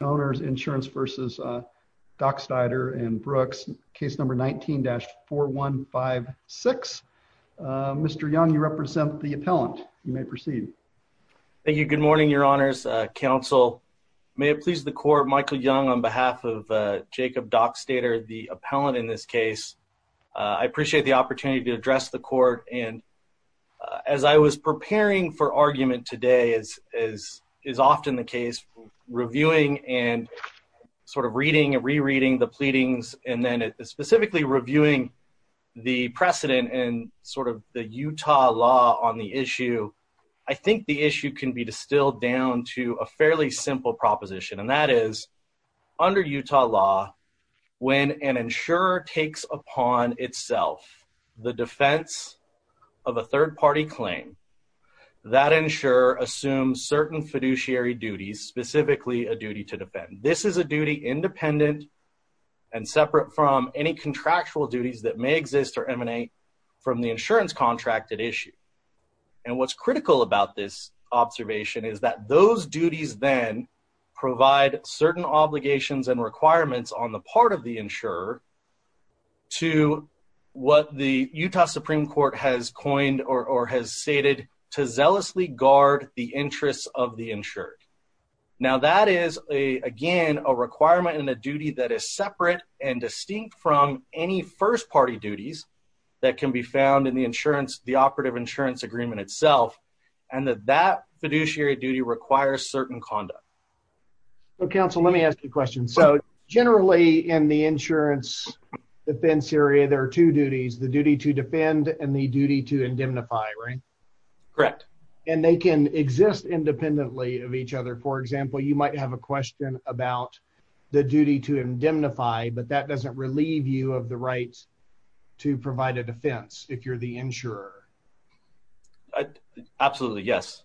and Brooks, case number 19-4156. Mr. Young, you represent the appellant. You may proceed. Thank you. Good morning, your honors, counsel. May it please the court, Michael Young on behalf of Jacob Dockstader, the appellant in this case. I appreciate the opportunity to address the court and as I was preparing for argument today, as is often the case, reviewing and sort of reading and rereading the pleadings and then specifically reviewing the precedent and sort of the Utah law on the issue, I think the issue can be distilled down to a fairly simple proposition and that is, under Utah law, when an insurer takes upon itself the defense of a third-party claim, that insurer assumes certain fiduciary duties, specifically a duty to defend. This is a duty independent and separate from any contractual duties that may exist or emanate from the insurance contracted issue and what's critical about this observation is that those duties then provide certain obligations and requirements on the part of the insurer to what the Utah Supreme Court has coined or has stated, to zealously guard the interests of the insured. Now that is, again, a requirement and a duty that is separate and distinct from any first-party duties that can be found in the operative insurance agreement itself and that that fiduciary duty requires certain conduct. So, counsel, let me ask you a question. So, generally in the insurance defense area, there are two duties, the duty to defend and the duty to indemnify, right? Correct. And they can exist independently of each other. For example, you might have a question about the duty to indemnify, but that doesn't relieve you of the right to provide a defense if you're the insurer. Absolutely, yes.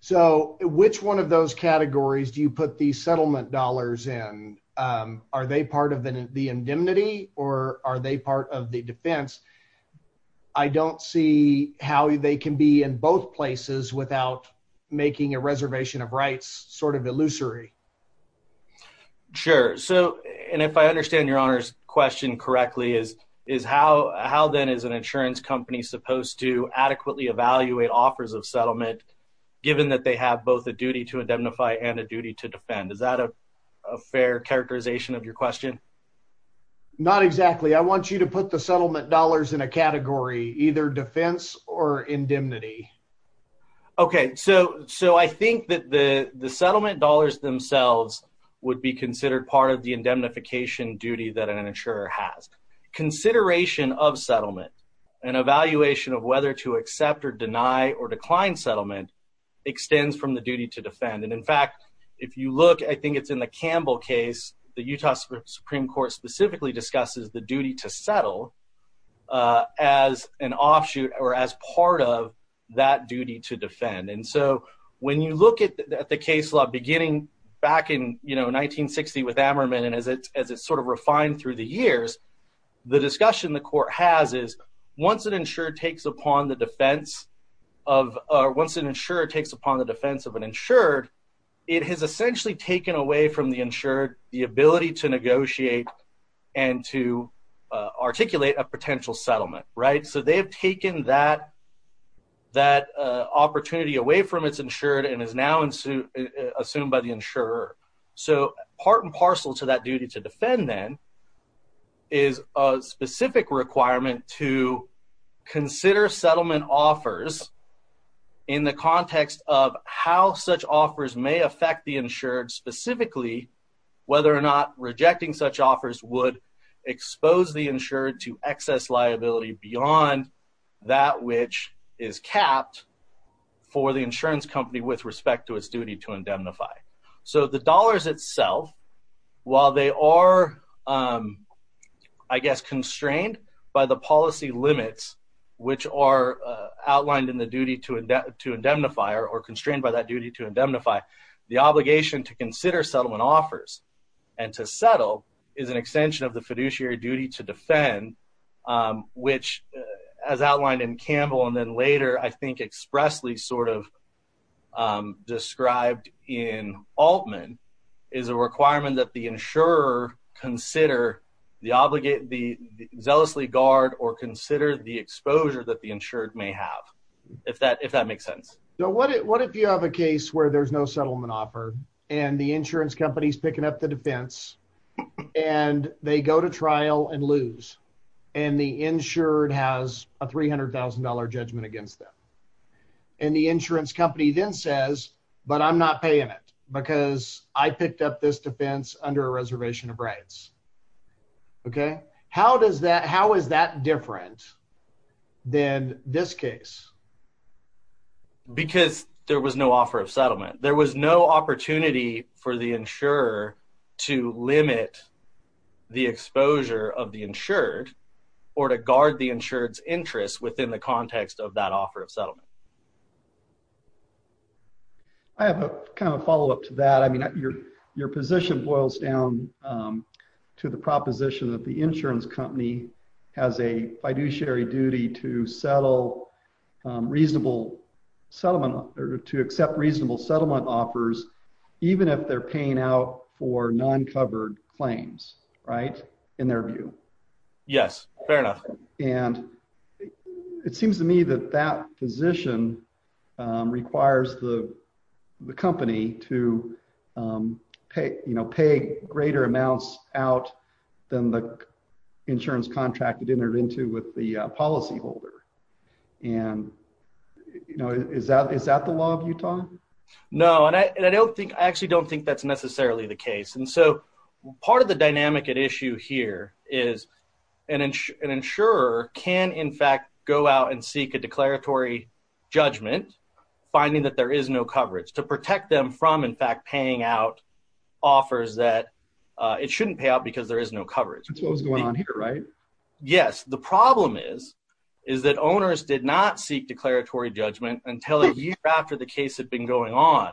So, which one of those categories do you put the settlement dollars in? Are they part of the indemnity or are they part of the defense? I don't see how they can be in both places without making a reservation of rights sort of illusory. Sure. So, and if I understand your honor's question correctly, is how then is an insurance company supposed to adequately evaluate offers of settlement given that they have both a duty to indemnify and a duty to defend? Is that a fair characterization of your question? Not exactly. I want you to put the settlement dollars in a category, either defense or indemnity. Okay. So, I think that the settlement dollars themselves would be considered part of the evaluation of whether to accept or deny or decline settlement extends from the duty to defend. And in fact, if you look, I think it's in the Campbell case, the Utah Supreme Court specifically discusses the duty to settle as an offshoot or as part of that duty to defend. And so, when you look at the case law beginning back in 1960 with Ammerman and as it sort of takes upon the defense of once an insurer takes upon the defense of an insured, it has essentially taken away from the insured the ability to negotiate and to articulate a potential settlement, right? So, they have taken that opportunity away from its insured and is now assumed by the insurer. So, part and parcel to that duty to defend then is a specific requirement to consider settlement offers in the context of how such offers may affect the insured specifically, whether or not rejecting such offers would expose the insured to excess liability beyond that which is capped for the insurance company with respect to its duty to indemnify. So, the dollars itself, while they are, I guess, constrained by the policy limits which are outlined in the duty to indemnify or constrained by that duty to indemnify, the obligation to consider settlement offers and to settle is an extension of the fiduciary duty to defend which as outlined in Campbell and then later, I think, expressly sort of described in Altman is a requirement that the insurer consider the obligate, the zealously guard or consider the exposure that the insured may have, if that makes sense. So, what if you have a case where there's no settlement offer and the insurance company's a trial and lose and the insured has a $300,000 judgment against them and the insurance company then says, but I'm not paying it because I picked up this defense under a reservation of rights. Okay. How is that different than this case? Because there was no offer of settlement. There was no opportunity for the insurer to limit the exposure of the insured or to guard the insured's interest within the context of that offer of settlement. I have a kind of follow-up to that. I mean, your position boils down to the proposition that the insurance company has a fiduciary duty to settle reasonable settlement to accept reasonable settlement offers, even if they're paying out for non-covered claims, right? In their view. Yes. Fair enough. And it seems to me that that position requires the company to pay greater amounts out than the insurance contract it entered into with the policyholder. And is that the law of Utah? No. And I actually don't think that's necessarily the case. And so, part of the dynamic at issue here is an insurer can, in fact, go out and seek a declaratory judgment finding that there is no coverage to protect them from, in fact, paying out offers that it shouldn't pay out because there is no coverage. That's what was going on here, right? Yes. The problem is that owners did not seek declaratory judgment until a year after the case had been going on.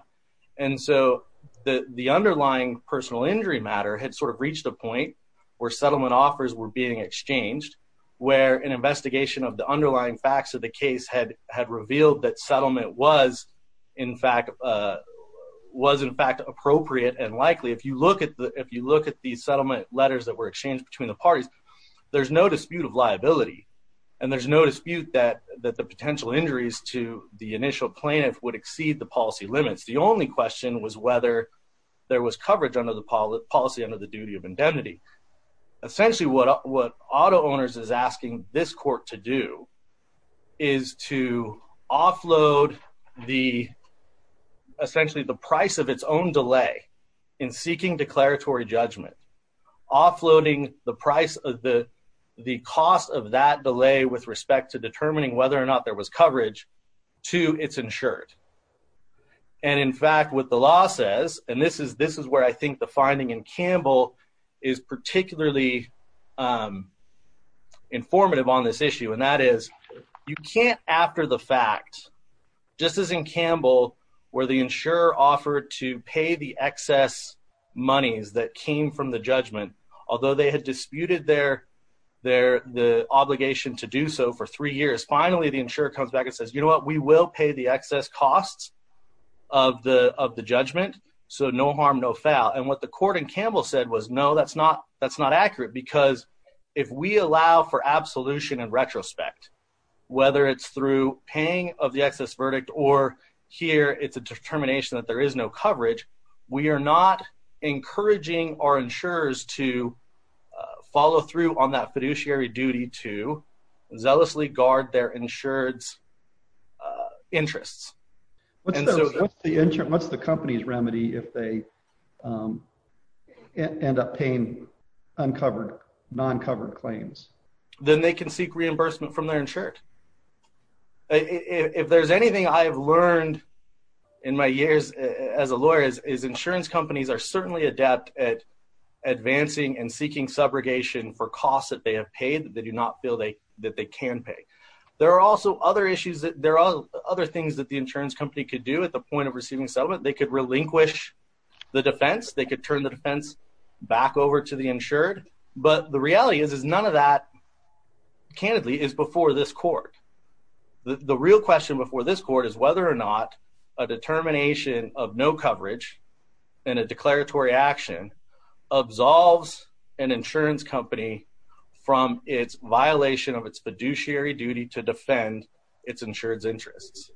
And so, the underlying personal injury matter had sort of reached a point where settlement offers were being exchanged, where an investigation of the underlying facts of the case had revealed that settlement was, in fact, appropriate and likely. If you look at the settlement letters that were exchanged between the parties, there's no dispute of liability and there's no dispute that the potential injuries to the initial plaintiff would exceed the policy limits. The only question was whether there was coverage under the policy under the duty of indemnity. Essentially, what Auto Owners is asking this court to do is to offload the, essentially, the price of its own delay in seeking declaratory judgment, offloading the price of the cost of that delay with respect to determining whether or not there was coverage to its insured. And, in fact, what the law says, and this is where I think the finding in Campbell is particularly informative on this issue, and that is you can't, after the fact, just as in Campbell, where the insurer offered to pay the excess monies that came from the judgment, although they had disputed their obligation to do so for three years, finally, the insurer comes back and says, you know what, we will pay the excess costs of the judgment, so no harm, no foul. And what the court in Campbell said was, no, that's not accurate, because if we allow for or hear it's a determination that there is no coverage, we are not encouraging our insurers to follow through on that fiduciary duty to zealously guard their insured's interests. What's the company's remedy if they end up paying uncovered, non-covered claims? Then they can seek reimbursement from their insured. If there's anything I have learned in my years as a lawyer is insurance companies are certainly adept at advancing and seeking subrogation for costs that they have paid that they do not feel that they can pay. There are also other issues that, there are other things that the insurance company could do at the point of receiving settlement. They could relinquish the defense, they could turn the defense back over to the insured, but the reality is none of that, candidly, is before this court. The real question before this court is whether or not a determination of no coverage and a declaratory action absolves an insurance company from its violation of its fiduciary duty to defend its insured's interests.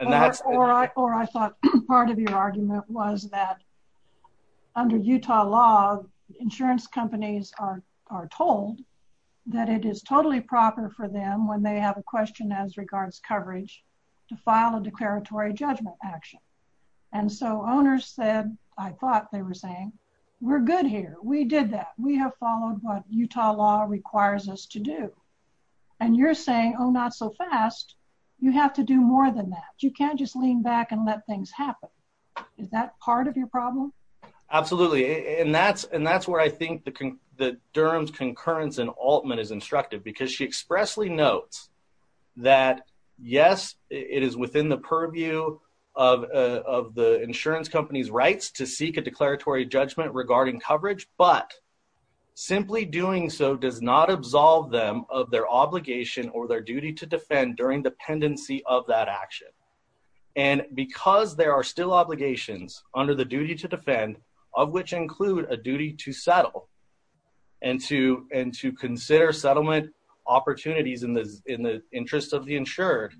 Or I thought part of your argument was that under Utah law insurance companies are told that it is totally proper for them when they have a question as regards coverage to file a declaratory judgment action. And so owners said, I thought they were saying, we're good here. We did that. We have followed what Utah law requires us to do. And you're saying, oh, not so fast. You have to do more than that. You can't just and that's, and that's where I think the Durham's concurrence and Altman is instructive because she expressly notes that yes, it is within the purview of the insurance company's rights to seek a declaratory judgment regarding coverage, but simply doing so does not absolve them of their obligation or their duty to defend during dependency of that action. And because there are still obligations under the duty to defend of which include a duty to settle and to, and to consider settlement opportunities in the, in the interest of the insured,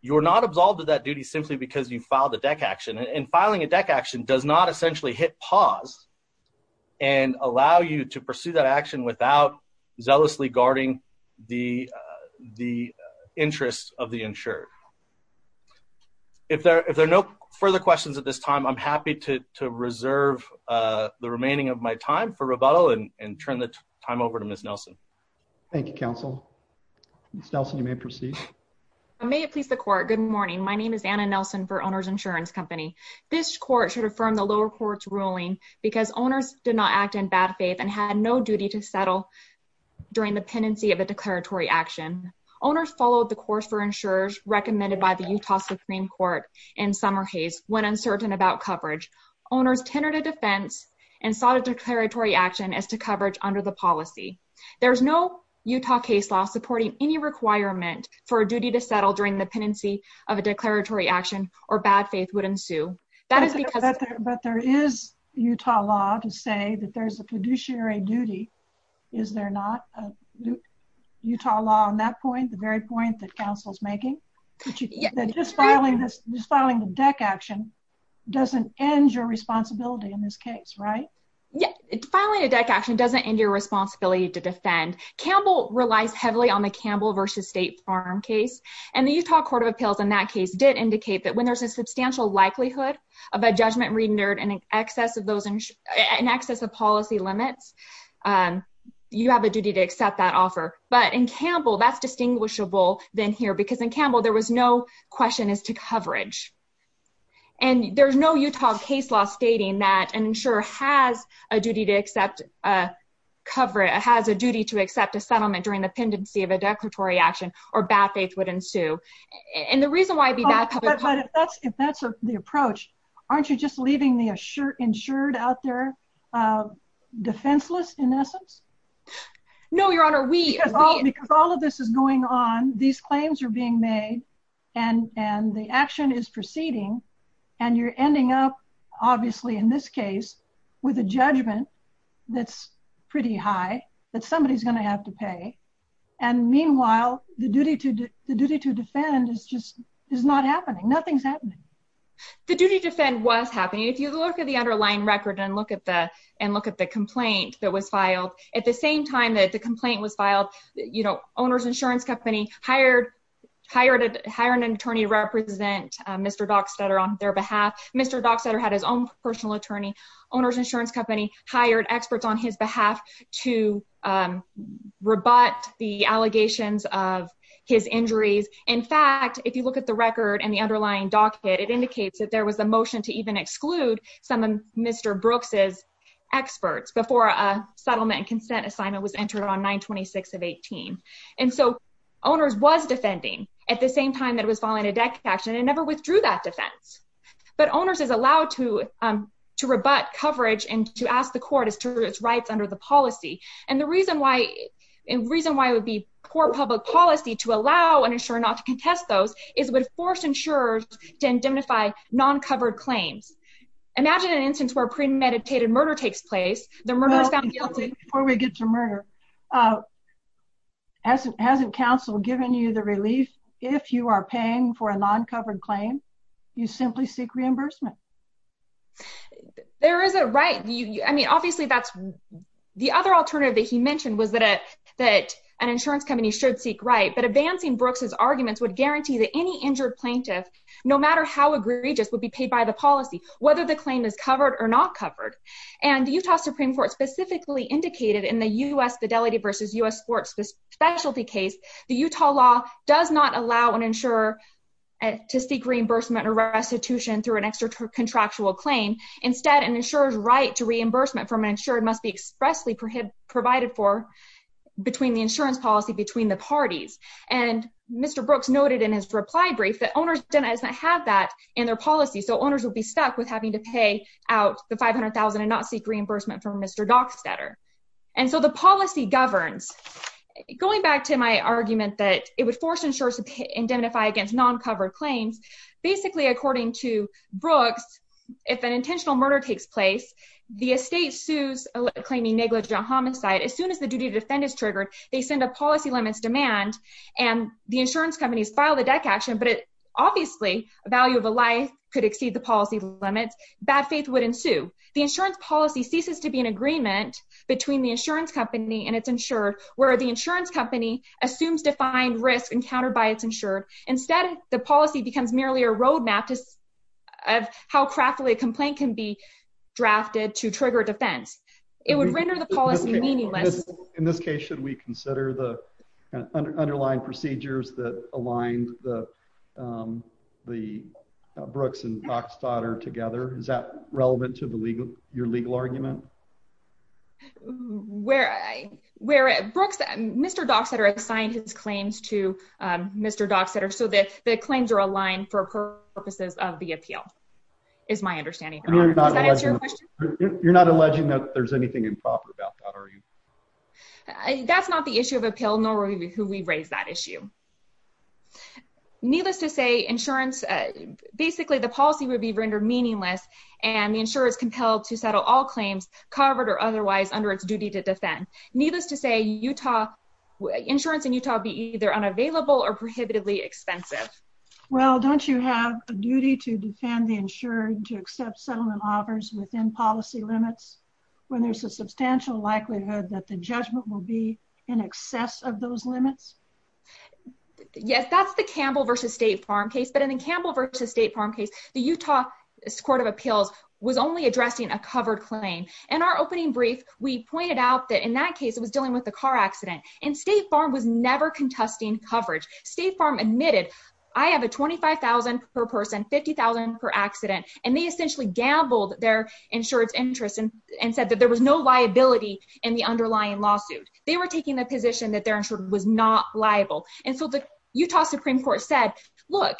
you are not absolved of that duty simply because you filed a deck action and filing a deck action does not essentially hit pause and allow you to pursue that action without zealously guarding the, the interest of the questions at this time. I'm happy to, to reserve the remaining of my time for rebuttal and turn the time over to Ms. Nelson. Thank you. Counsel Nelson. You may proceed. May it please the court. Good morning. My name is Anna Nelson for owner's insurance company. This court should affirm the lower courts ruling because owners did not act in bad faith and had no duty to settle during the pendency of a declaratory action. Owners followed the course for insurers recommended by the Utah Supreme court in summer Hayes when uncertain about coverage owners tenor to defense and sought a declaratory action as to coverage under the policy. There's no Utah case law supporting any requirement for a duty to settle during the pendency of a declaratory action or bad faith would ensue. But there is Utah law to say that there's a making just filing this, just filing the deck action doesn't end your responsibility in this case, right? Yeah. It's finally a deck action doesn't end your responsibility to defend. Campbell relies heavily on the Campbell versus state farm case and the Utah court of appeals in that case did indicate that when there's a substantial likelihood of a judgment rendered and an excess of those in excess of policy limits you have a duty to accept that offer. But in Campbell, there was no question as to coverage and there's no Utah case law stating that an insurer has a duty to accept a cover. It has a duty to accept a settlement during the pendency of a declaratory action or bad faith would ensue. And the reason why I'd be bad, but if that's, if that's the approach, aren't you just leaving the assured, insured out there, defenseless in essence? No, your honor, we, because all of this is going on, these claims are being made and, and the action is proceeding and you're ending up, obviously in this case, with a judgment that's pretty high that somebody's going to have to pay. And meanwhile, the duty to, the duty to defend is just, is not happening. Nothing's happening. The duty to defend was happening. If you look at the underlying record and look at the, and look at the complaint that was filed at the same time that the complaint was filed, you know, owner's insurance company hired, hired, hired an attorney to represent Mr. Dockstader on their behalf. Mr. Dockstader had his own personal attorney, owner's insurance company hired experts on his behalf to rebut the allegations of his injuries. In fact, if you look at the record and the underlying docket, it indicates that there was a motion to even exclude some of Mr. Brooks' experts before a settlement and consent assignment was entered on 926 of 18. And so owner's was defending at the same time that it was filing a death action and never withdrew that defense. But owner's is allowed to, to rebut coverage and to ask the court as to its rights under the policy. And the reason why, and reason why it would be poor public policy to allow an insurer not to contest those is it would force insurers to indemnify non-covered claims. Imagine an instance where premeditated murder takes place, the murderer's found guilty. Before we get to murder, uh, hasn't, hasn't counsel given you the relief? If you are paying for a non-covered claim, you simply seek reimbursement. There is a right. You, I mean, obviously that's the other alternative that he mentioned was that, uh, that an insurance company should seek right. But advancing Brooks' arguments would guarantee that any injured plaintiff, no matter how egregious would be paid by the policy, whether the claim is covered or not covered. And the Utah Supreme court specifically indicated in the U S fidelity versus us sports specialty case, the Utah law does not allow an insurer to seek reimbursement or restitution through an extra contractual claim. Instead, an insurer's right to reimbursement from an insurer must be expressly prohibited, provided for between the insurance policy between the parties. And Mr. Brooks noted in his reply brief that owners didn't have that in their policy. So owners will be stuck with having to pay out the 500,000 and not seek reimbursement from Mr. Dockstader. And so the policy governs going back to my argument that it would force insurers to indemnify against non-covered claims. Basically, according to Brooks, if an intentional murder takes place, the estate sues claiming negligent homicide. As soon as the duty to defend is and the insurance companies file the deck action, but it obviously a value of a life could exceed the policy limits, bad faith would ensue. The insurance policy ceases to be an agreement between the insurance company and it's insured where the insurance company assumes defined risk encountered by it's insured. Instead, the policy becomes merely a roadmap of how craftily a complaint can be drafted to trigger defense. It would render the policy meaningless. In this case, should we consider the underlying procedures that aligned the, um, the Brooks and Dockstader together? Is that relevant to the legal, your legal argument? Where I, where Brooks, Mr. Dockstader assigned his claims to, um, Mr. Dockstader. So that the claims are aligned for purposes of the appeal is my understanding. You're not alleging that there's anything improper about that, are you? That's not the issue of appeal nor who we raised that issue. Needless to say insurance, basically the policy would be rendered meaningless and the insurer is compelled to settle all claims covered or otherwise under its duty to defend. Needless to say, Utah insurance in Utah be either unavailable or prohibitively expensive. Well, don't you have a duty to defend the insured to accept settlement offers within policy limits? When there's a substantial likelihood that the judgment will be in excess of those limits? Yes, that's the Campbell versus State Farm case. But in the Campbell versus State Farm case, the Utah court of appeals was only addressing a covered claim. And our opening brief, we pointed out that in that case, it was dealing with the car accident and State Farm was never contesting coverage. State Farm admitted, I have a 25,000 per person, 50,000 per accident. And they essentially gambled their insurance interest and said that there was no liability in the underlying lawsuit. They were taking the position that their insurance was not liable. And so the Utah Supreme Court said, look,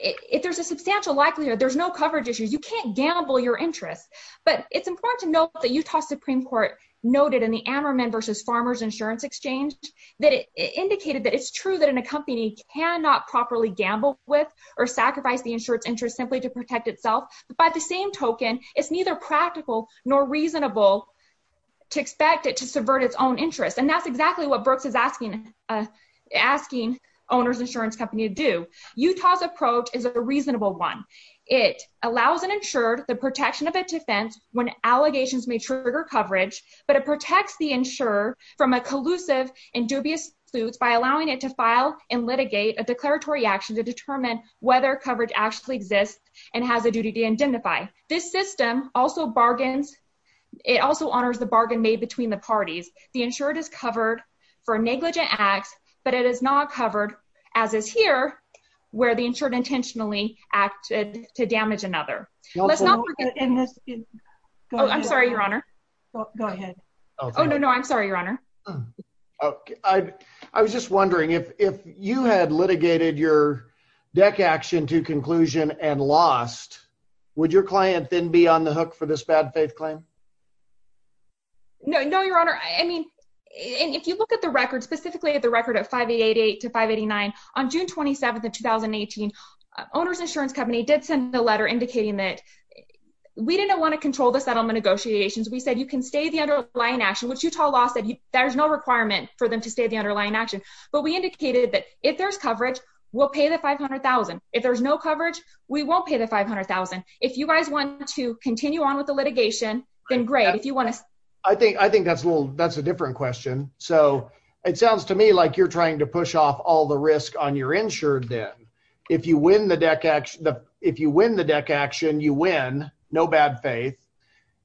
if there's a substantial likelihood, there's no coverage issues. You can't gamble your interest. But it's important to note that Utah Supreme Court noted in the Ammerman versus Farmers Insurance Exchange that it indicated that it's true that in a company cannot properly gamble with or it's neither practical nor reasonable to expect it to subvert its own interest. And that's exactly what Brooks is asking owners insurance company to do. Utah's approach is a reasonable one. It allows an insured the protection of a defense when allegations may trigger coverage, but it protects the insurer from a collusive and dubious suits by allowing it to file and litigate a declaratory action to determine whether coverage actually exists and has a duty to this system also bargains. It also honors the bargain made between the parties. The insured is covered for negligent acts, but it is not covered as is here, where the insured intentionally acted to damage another. I'm sorry, Your Honor. Go ahead. Oh, no, no, I'm sorry, Your Honor. I was just wondering if you had litigated your deck action to conclusion and lost, would your client then be on the hook for this bad faith claim? No, no, Your Honor. I mean, if you look at the record, specifically at the record of 588 to 589 on June 27th of 2018, owners insurance company did send a letter indicating that we didn't want to control the settlement negotiations. We said you can stay the underlying action, which Utah law said there's no requirement for them to stay the underlying action. But we indicated that if there's coverage, we'll pay the 500,000. If there's no coverage, we won't pay the 500,000. If you guys want to continue on with the litigation, then great. I think that's a different question. So it sounds to me like you're trying to push off all the risk on your insured debt. If you win the deck action, you win, no bad faith.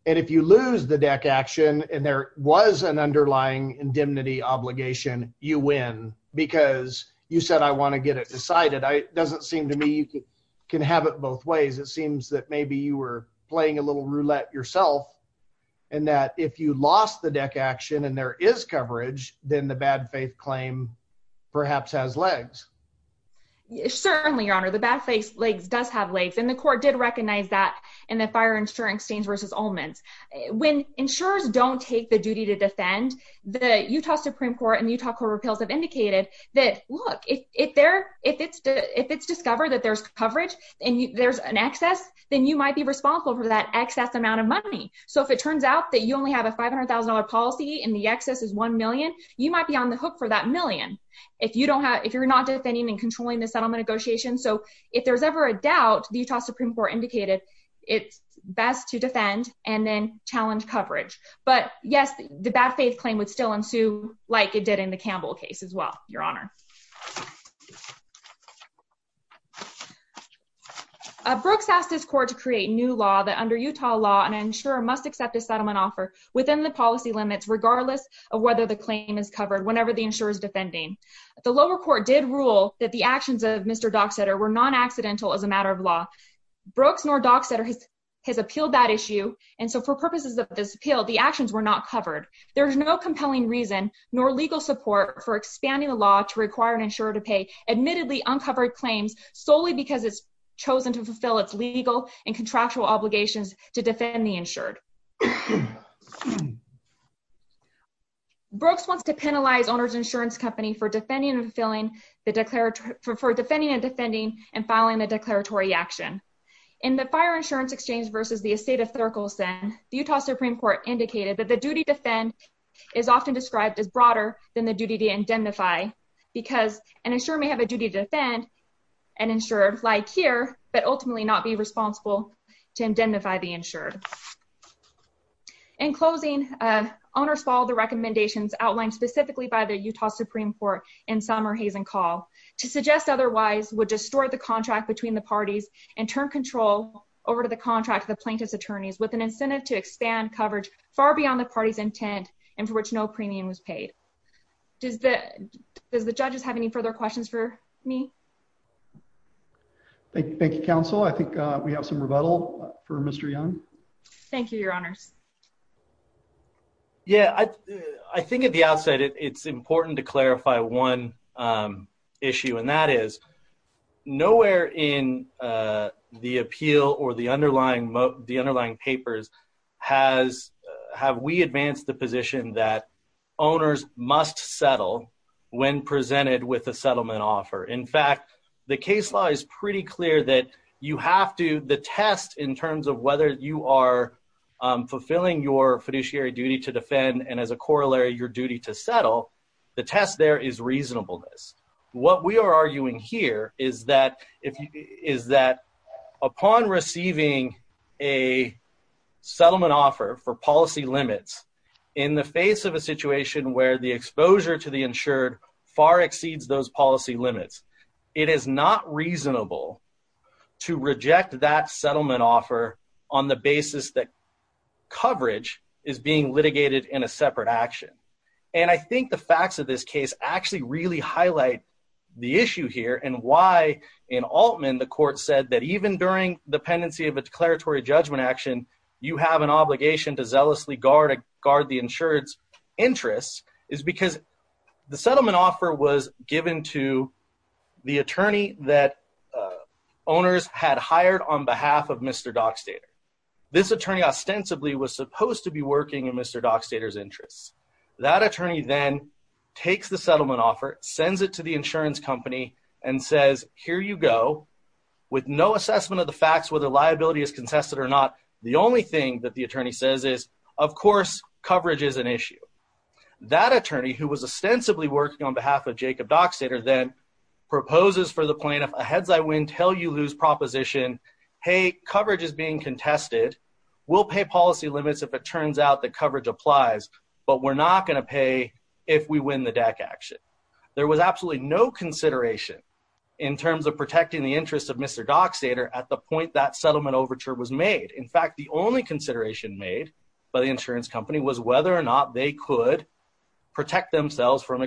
And if you lose the deck action and there was an underlying indemnity obligation, you win. Because you said, I want to get it decided. It doesn't seem to me you can have it both ways. It seems that maybe you were playing a little roulette yourself. And that if you lost the deck action and there is coverage, then the bad faith claim perhaps has legs. Certainly, Your Honor, the bad faith legs does have legs. And the court did recognize that in the fire insuring stains versus omens. When insurers don't take the duty to defend, the Utah Supreme Court and Utah Court of Appeals have indicated that, look, if it's discovered that there's coverage and there's an excess, then you might be responsible for that excess amount of money. So if it turns out that you only have a $500,000 policy and the excess is $1 million, you might be on the hook for that million if you're not defending and controlling the settlement negotiation. So if there's ever a doubt, the Utah Supreme Court indicated it's best to defend and then challenge coverage. But yes, the bad faith claim would still ensue like it did in the Campbell case as well, Your Honor. Brooks asked his court to create new law that under Utah law, an insurer must accept a settlement offer within the policy limits, regardless of whether the claim is covered whenever the insurer is defending. The lower court did rule that the actions of Mr. Dockstader were non-accidental as a matter of law. Brooks nor Dockstader has appealed that issue. And so for purposes of this appeal, the actions were not covered. There's no compelling reason nor legal support for expanding the law to require an insurer to pay admittedly uncovered claims solely because it's chosen to fulfill its legal and contractual obligations to defend the insured. Brooks wants to penalize the owner's insurance company for defending and defending and filing the declaratory action. In the fire insurance exchange versus the estate of Therkelson, the Utah Supreme Court indicated that the duty to defend is often described as broader than the duty to indemnify because an insurer may have a duty to defend an insured like here, but ultimately not be responsible to indemnify the insured. In closing, owners follow the recommendations outlined specifically by the Utah Supreme Court in Summer Hazen Call to suggest otherwise would distort the contract between the parties and turn control over to the contract of the plaintiff's attorneys with an incentive to expand coverage far beyond the party's intent and for which no premium was paid. Does the judges have any further questions for me? Thank you, counsel. I think we have some rebuttal for Mr. Young. Thank you, your honors. Yeah, I think at the outset it's important to clarify one issue and that is nowhere in the appeal or the underlying papers have we advanced the position that owners must settle when presented with a settlement offer. In fact, the case law is pretty clear that you have to, the test in terms of whether you are fulfilling your fiduciary duty to defend and as a corollary your duty to settle, the test there is reasonableness. What we are arguing here is that upon receiving a settlement offer for policy limits in the face of a situation where the settlement offer on the basis that coverage is being litigated in a separate action and I think the facts of this case actually really highlight the issue here and why in Altman the court said that even during the pendency of a declaratory judgment action you have an obligation to zealously guard the insured's interests is because the settlement offer was given to the attorney that owners had hired on behalf of Mr. Dockstader. This attorney ostensibly was supposed to be working in Mr. Dockstader's interests. That attorney then takes the settlement offer, sends it to the insurance company and says here you go with no assessment of the facts whether liability is contested or not the only thing that the attorney says is of course coverage is an issue. That attorney who was ostensibly working on behalf of Jacob Dockstader then proposes for the plaintiff a heads I win tell you lose proposition hey coverage is being contested we'll pay policy limits if it turns out that coverage applies but we're not going to pay if we win the deck action. There was absolutely no consideration in terms of protecting the interest of Mr. Dockstader at the point that settlement overture was made. In fact the only consideration made by the insurance company was whether or not they could protect themselves from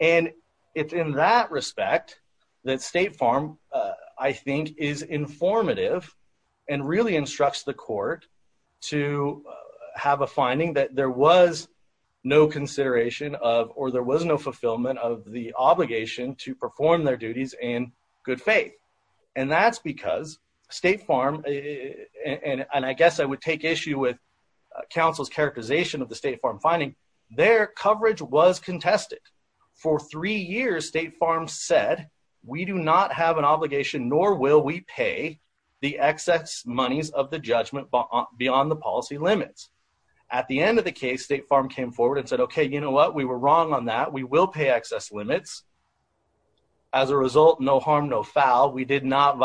and it's in that respect that State Farm I think is informative and really instructs the court to have a finding that there was no consideration of or there was no fulfillment of the obligation to perform their duties in good faith and that's because State Farm and I guess I would take issue with counsel's characterization of the State Farm finding their coverage was contested for three years State Farm said we do not have an obligation nor will we pay the excess monies of the judgment beyond the policy limits. At the end of the case State Farm came forward and said okay you know what we were wrong on that we will pay excess limits as a result no harm no foul we did not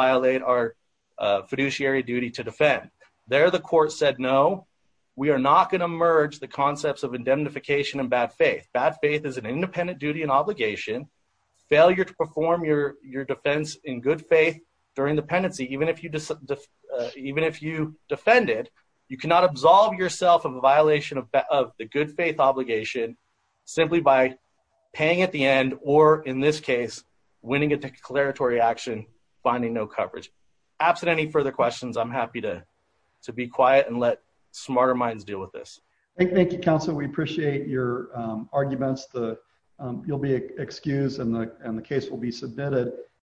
we are not going to merge the concepts of indemnification and bad faith bad faith is an independent duty and obligation failure to perform your your defense in good faith during dependency even if you defend it you cannot absolve yourself of a violation of the good faith obligation simply by paying at the end or in this case winning a declaratory action finding no smarter minds deal with this. Thank you counsel we appreciate your arguments the you'll be excused and the and the case will be submitted.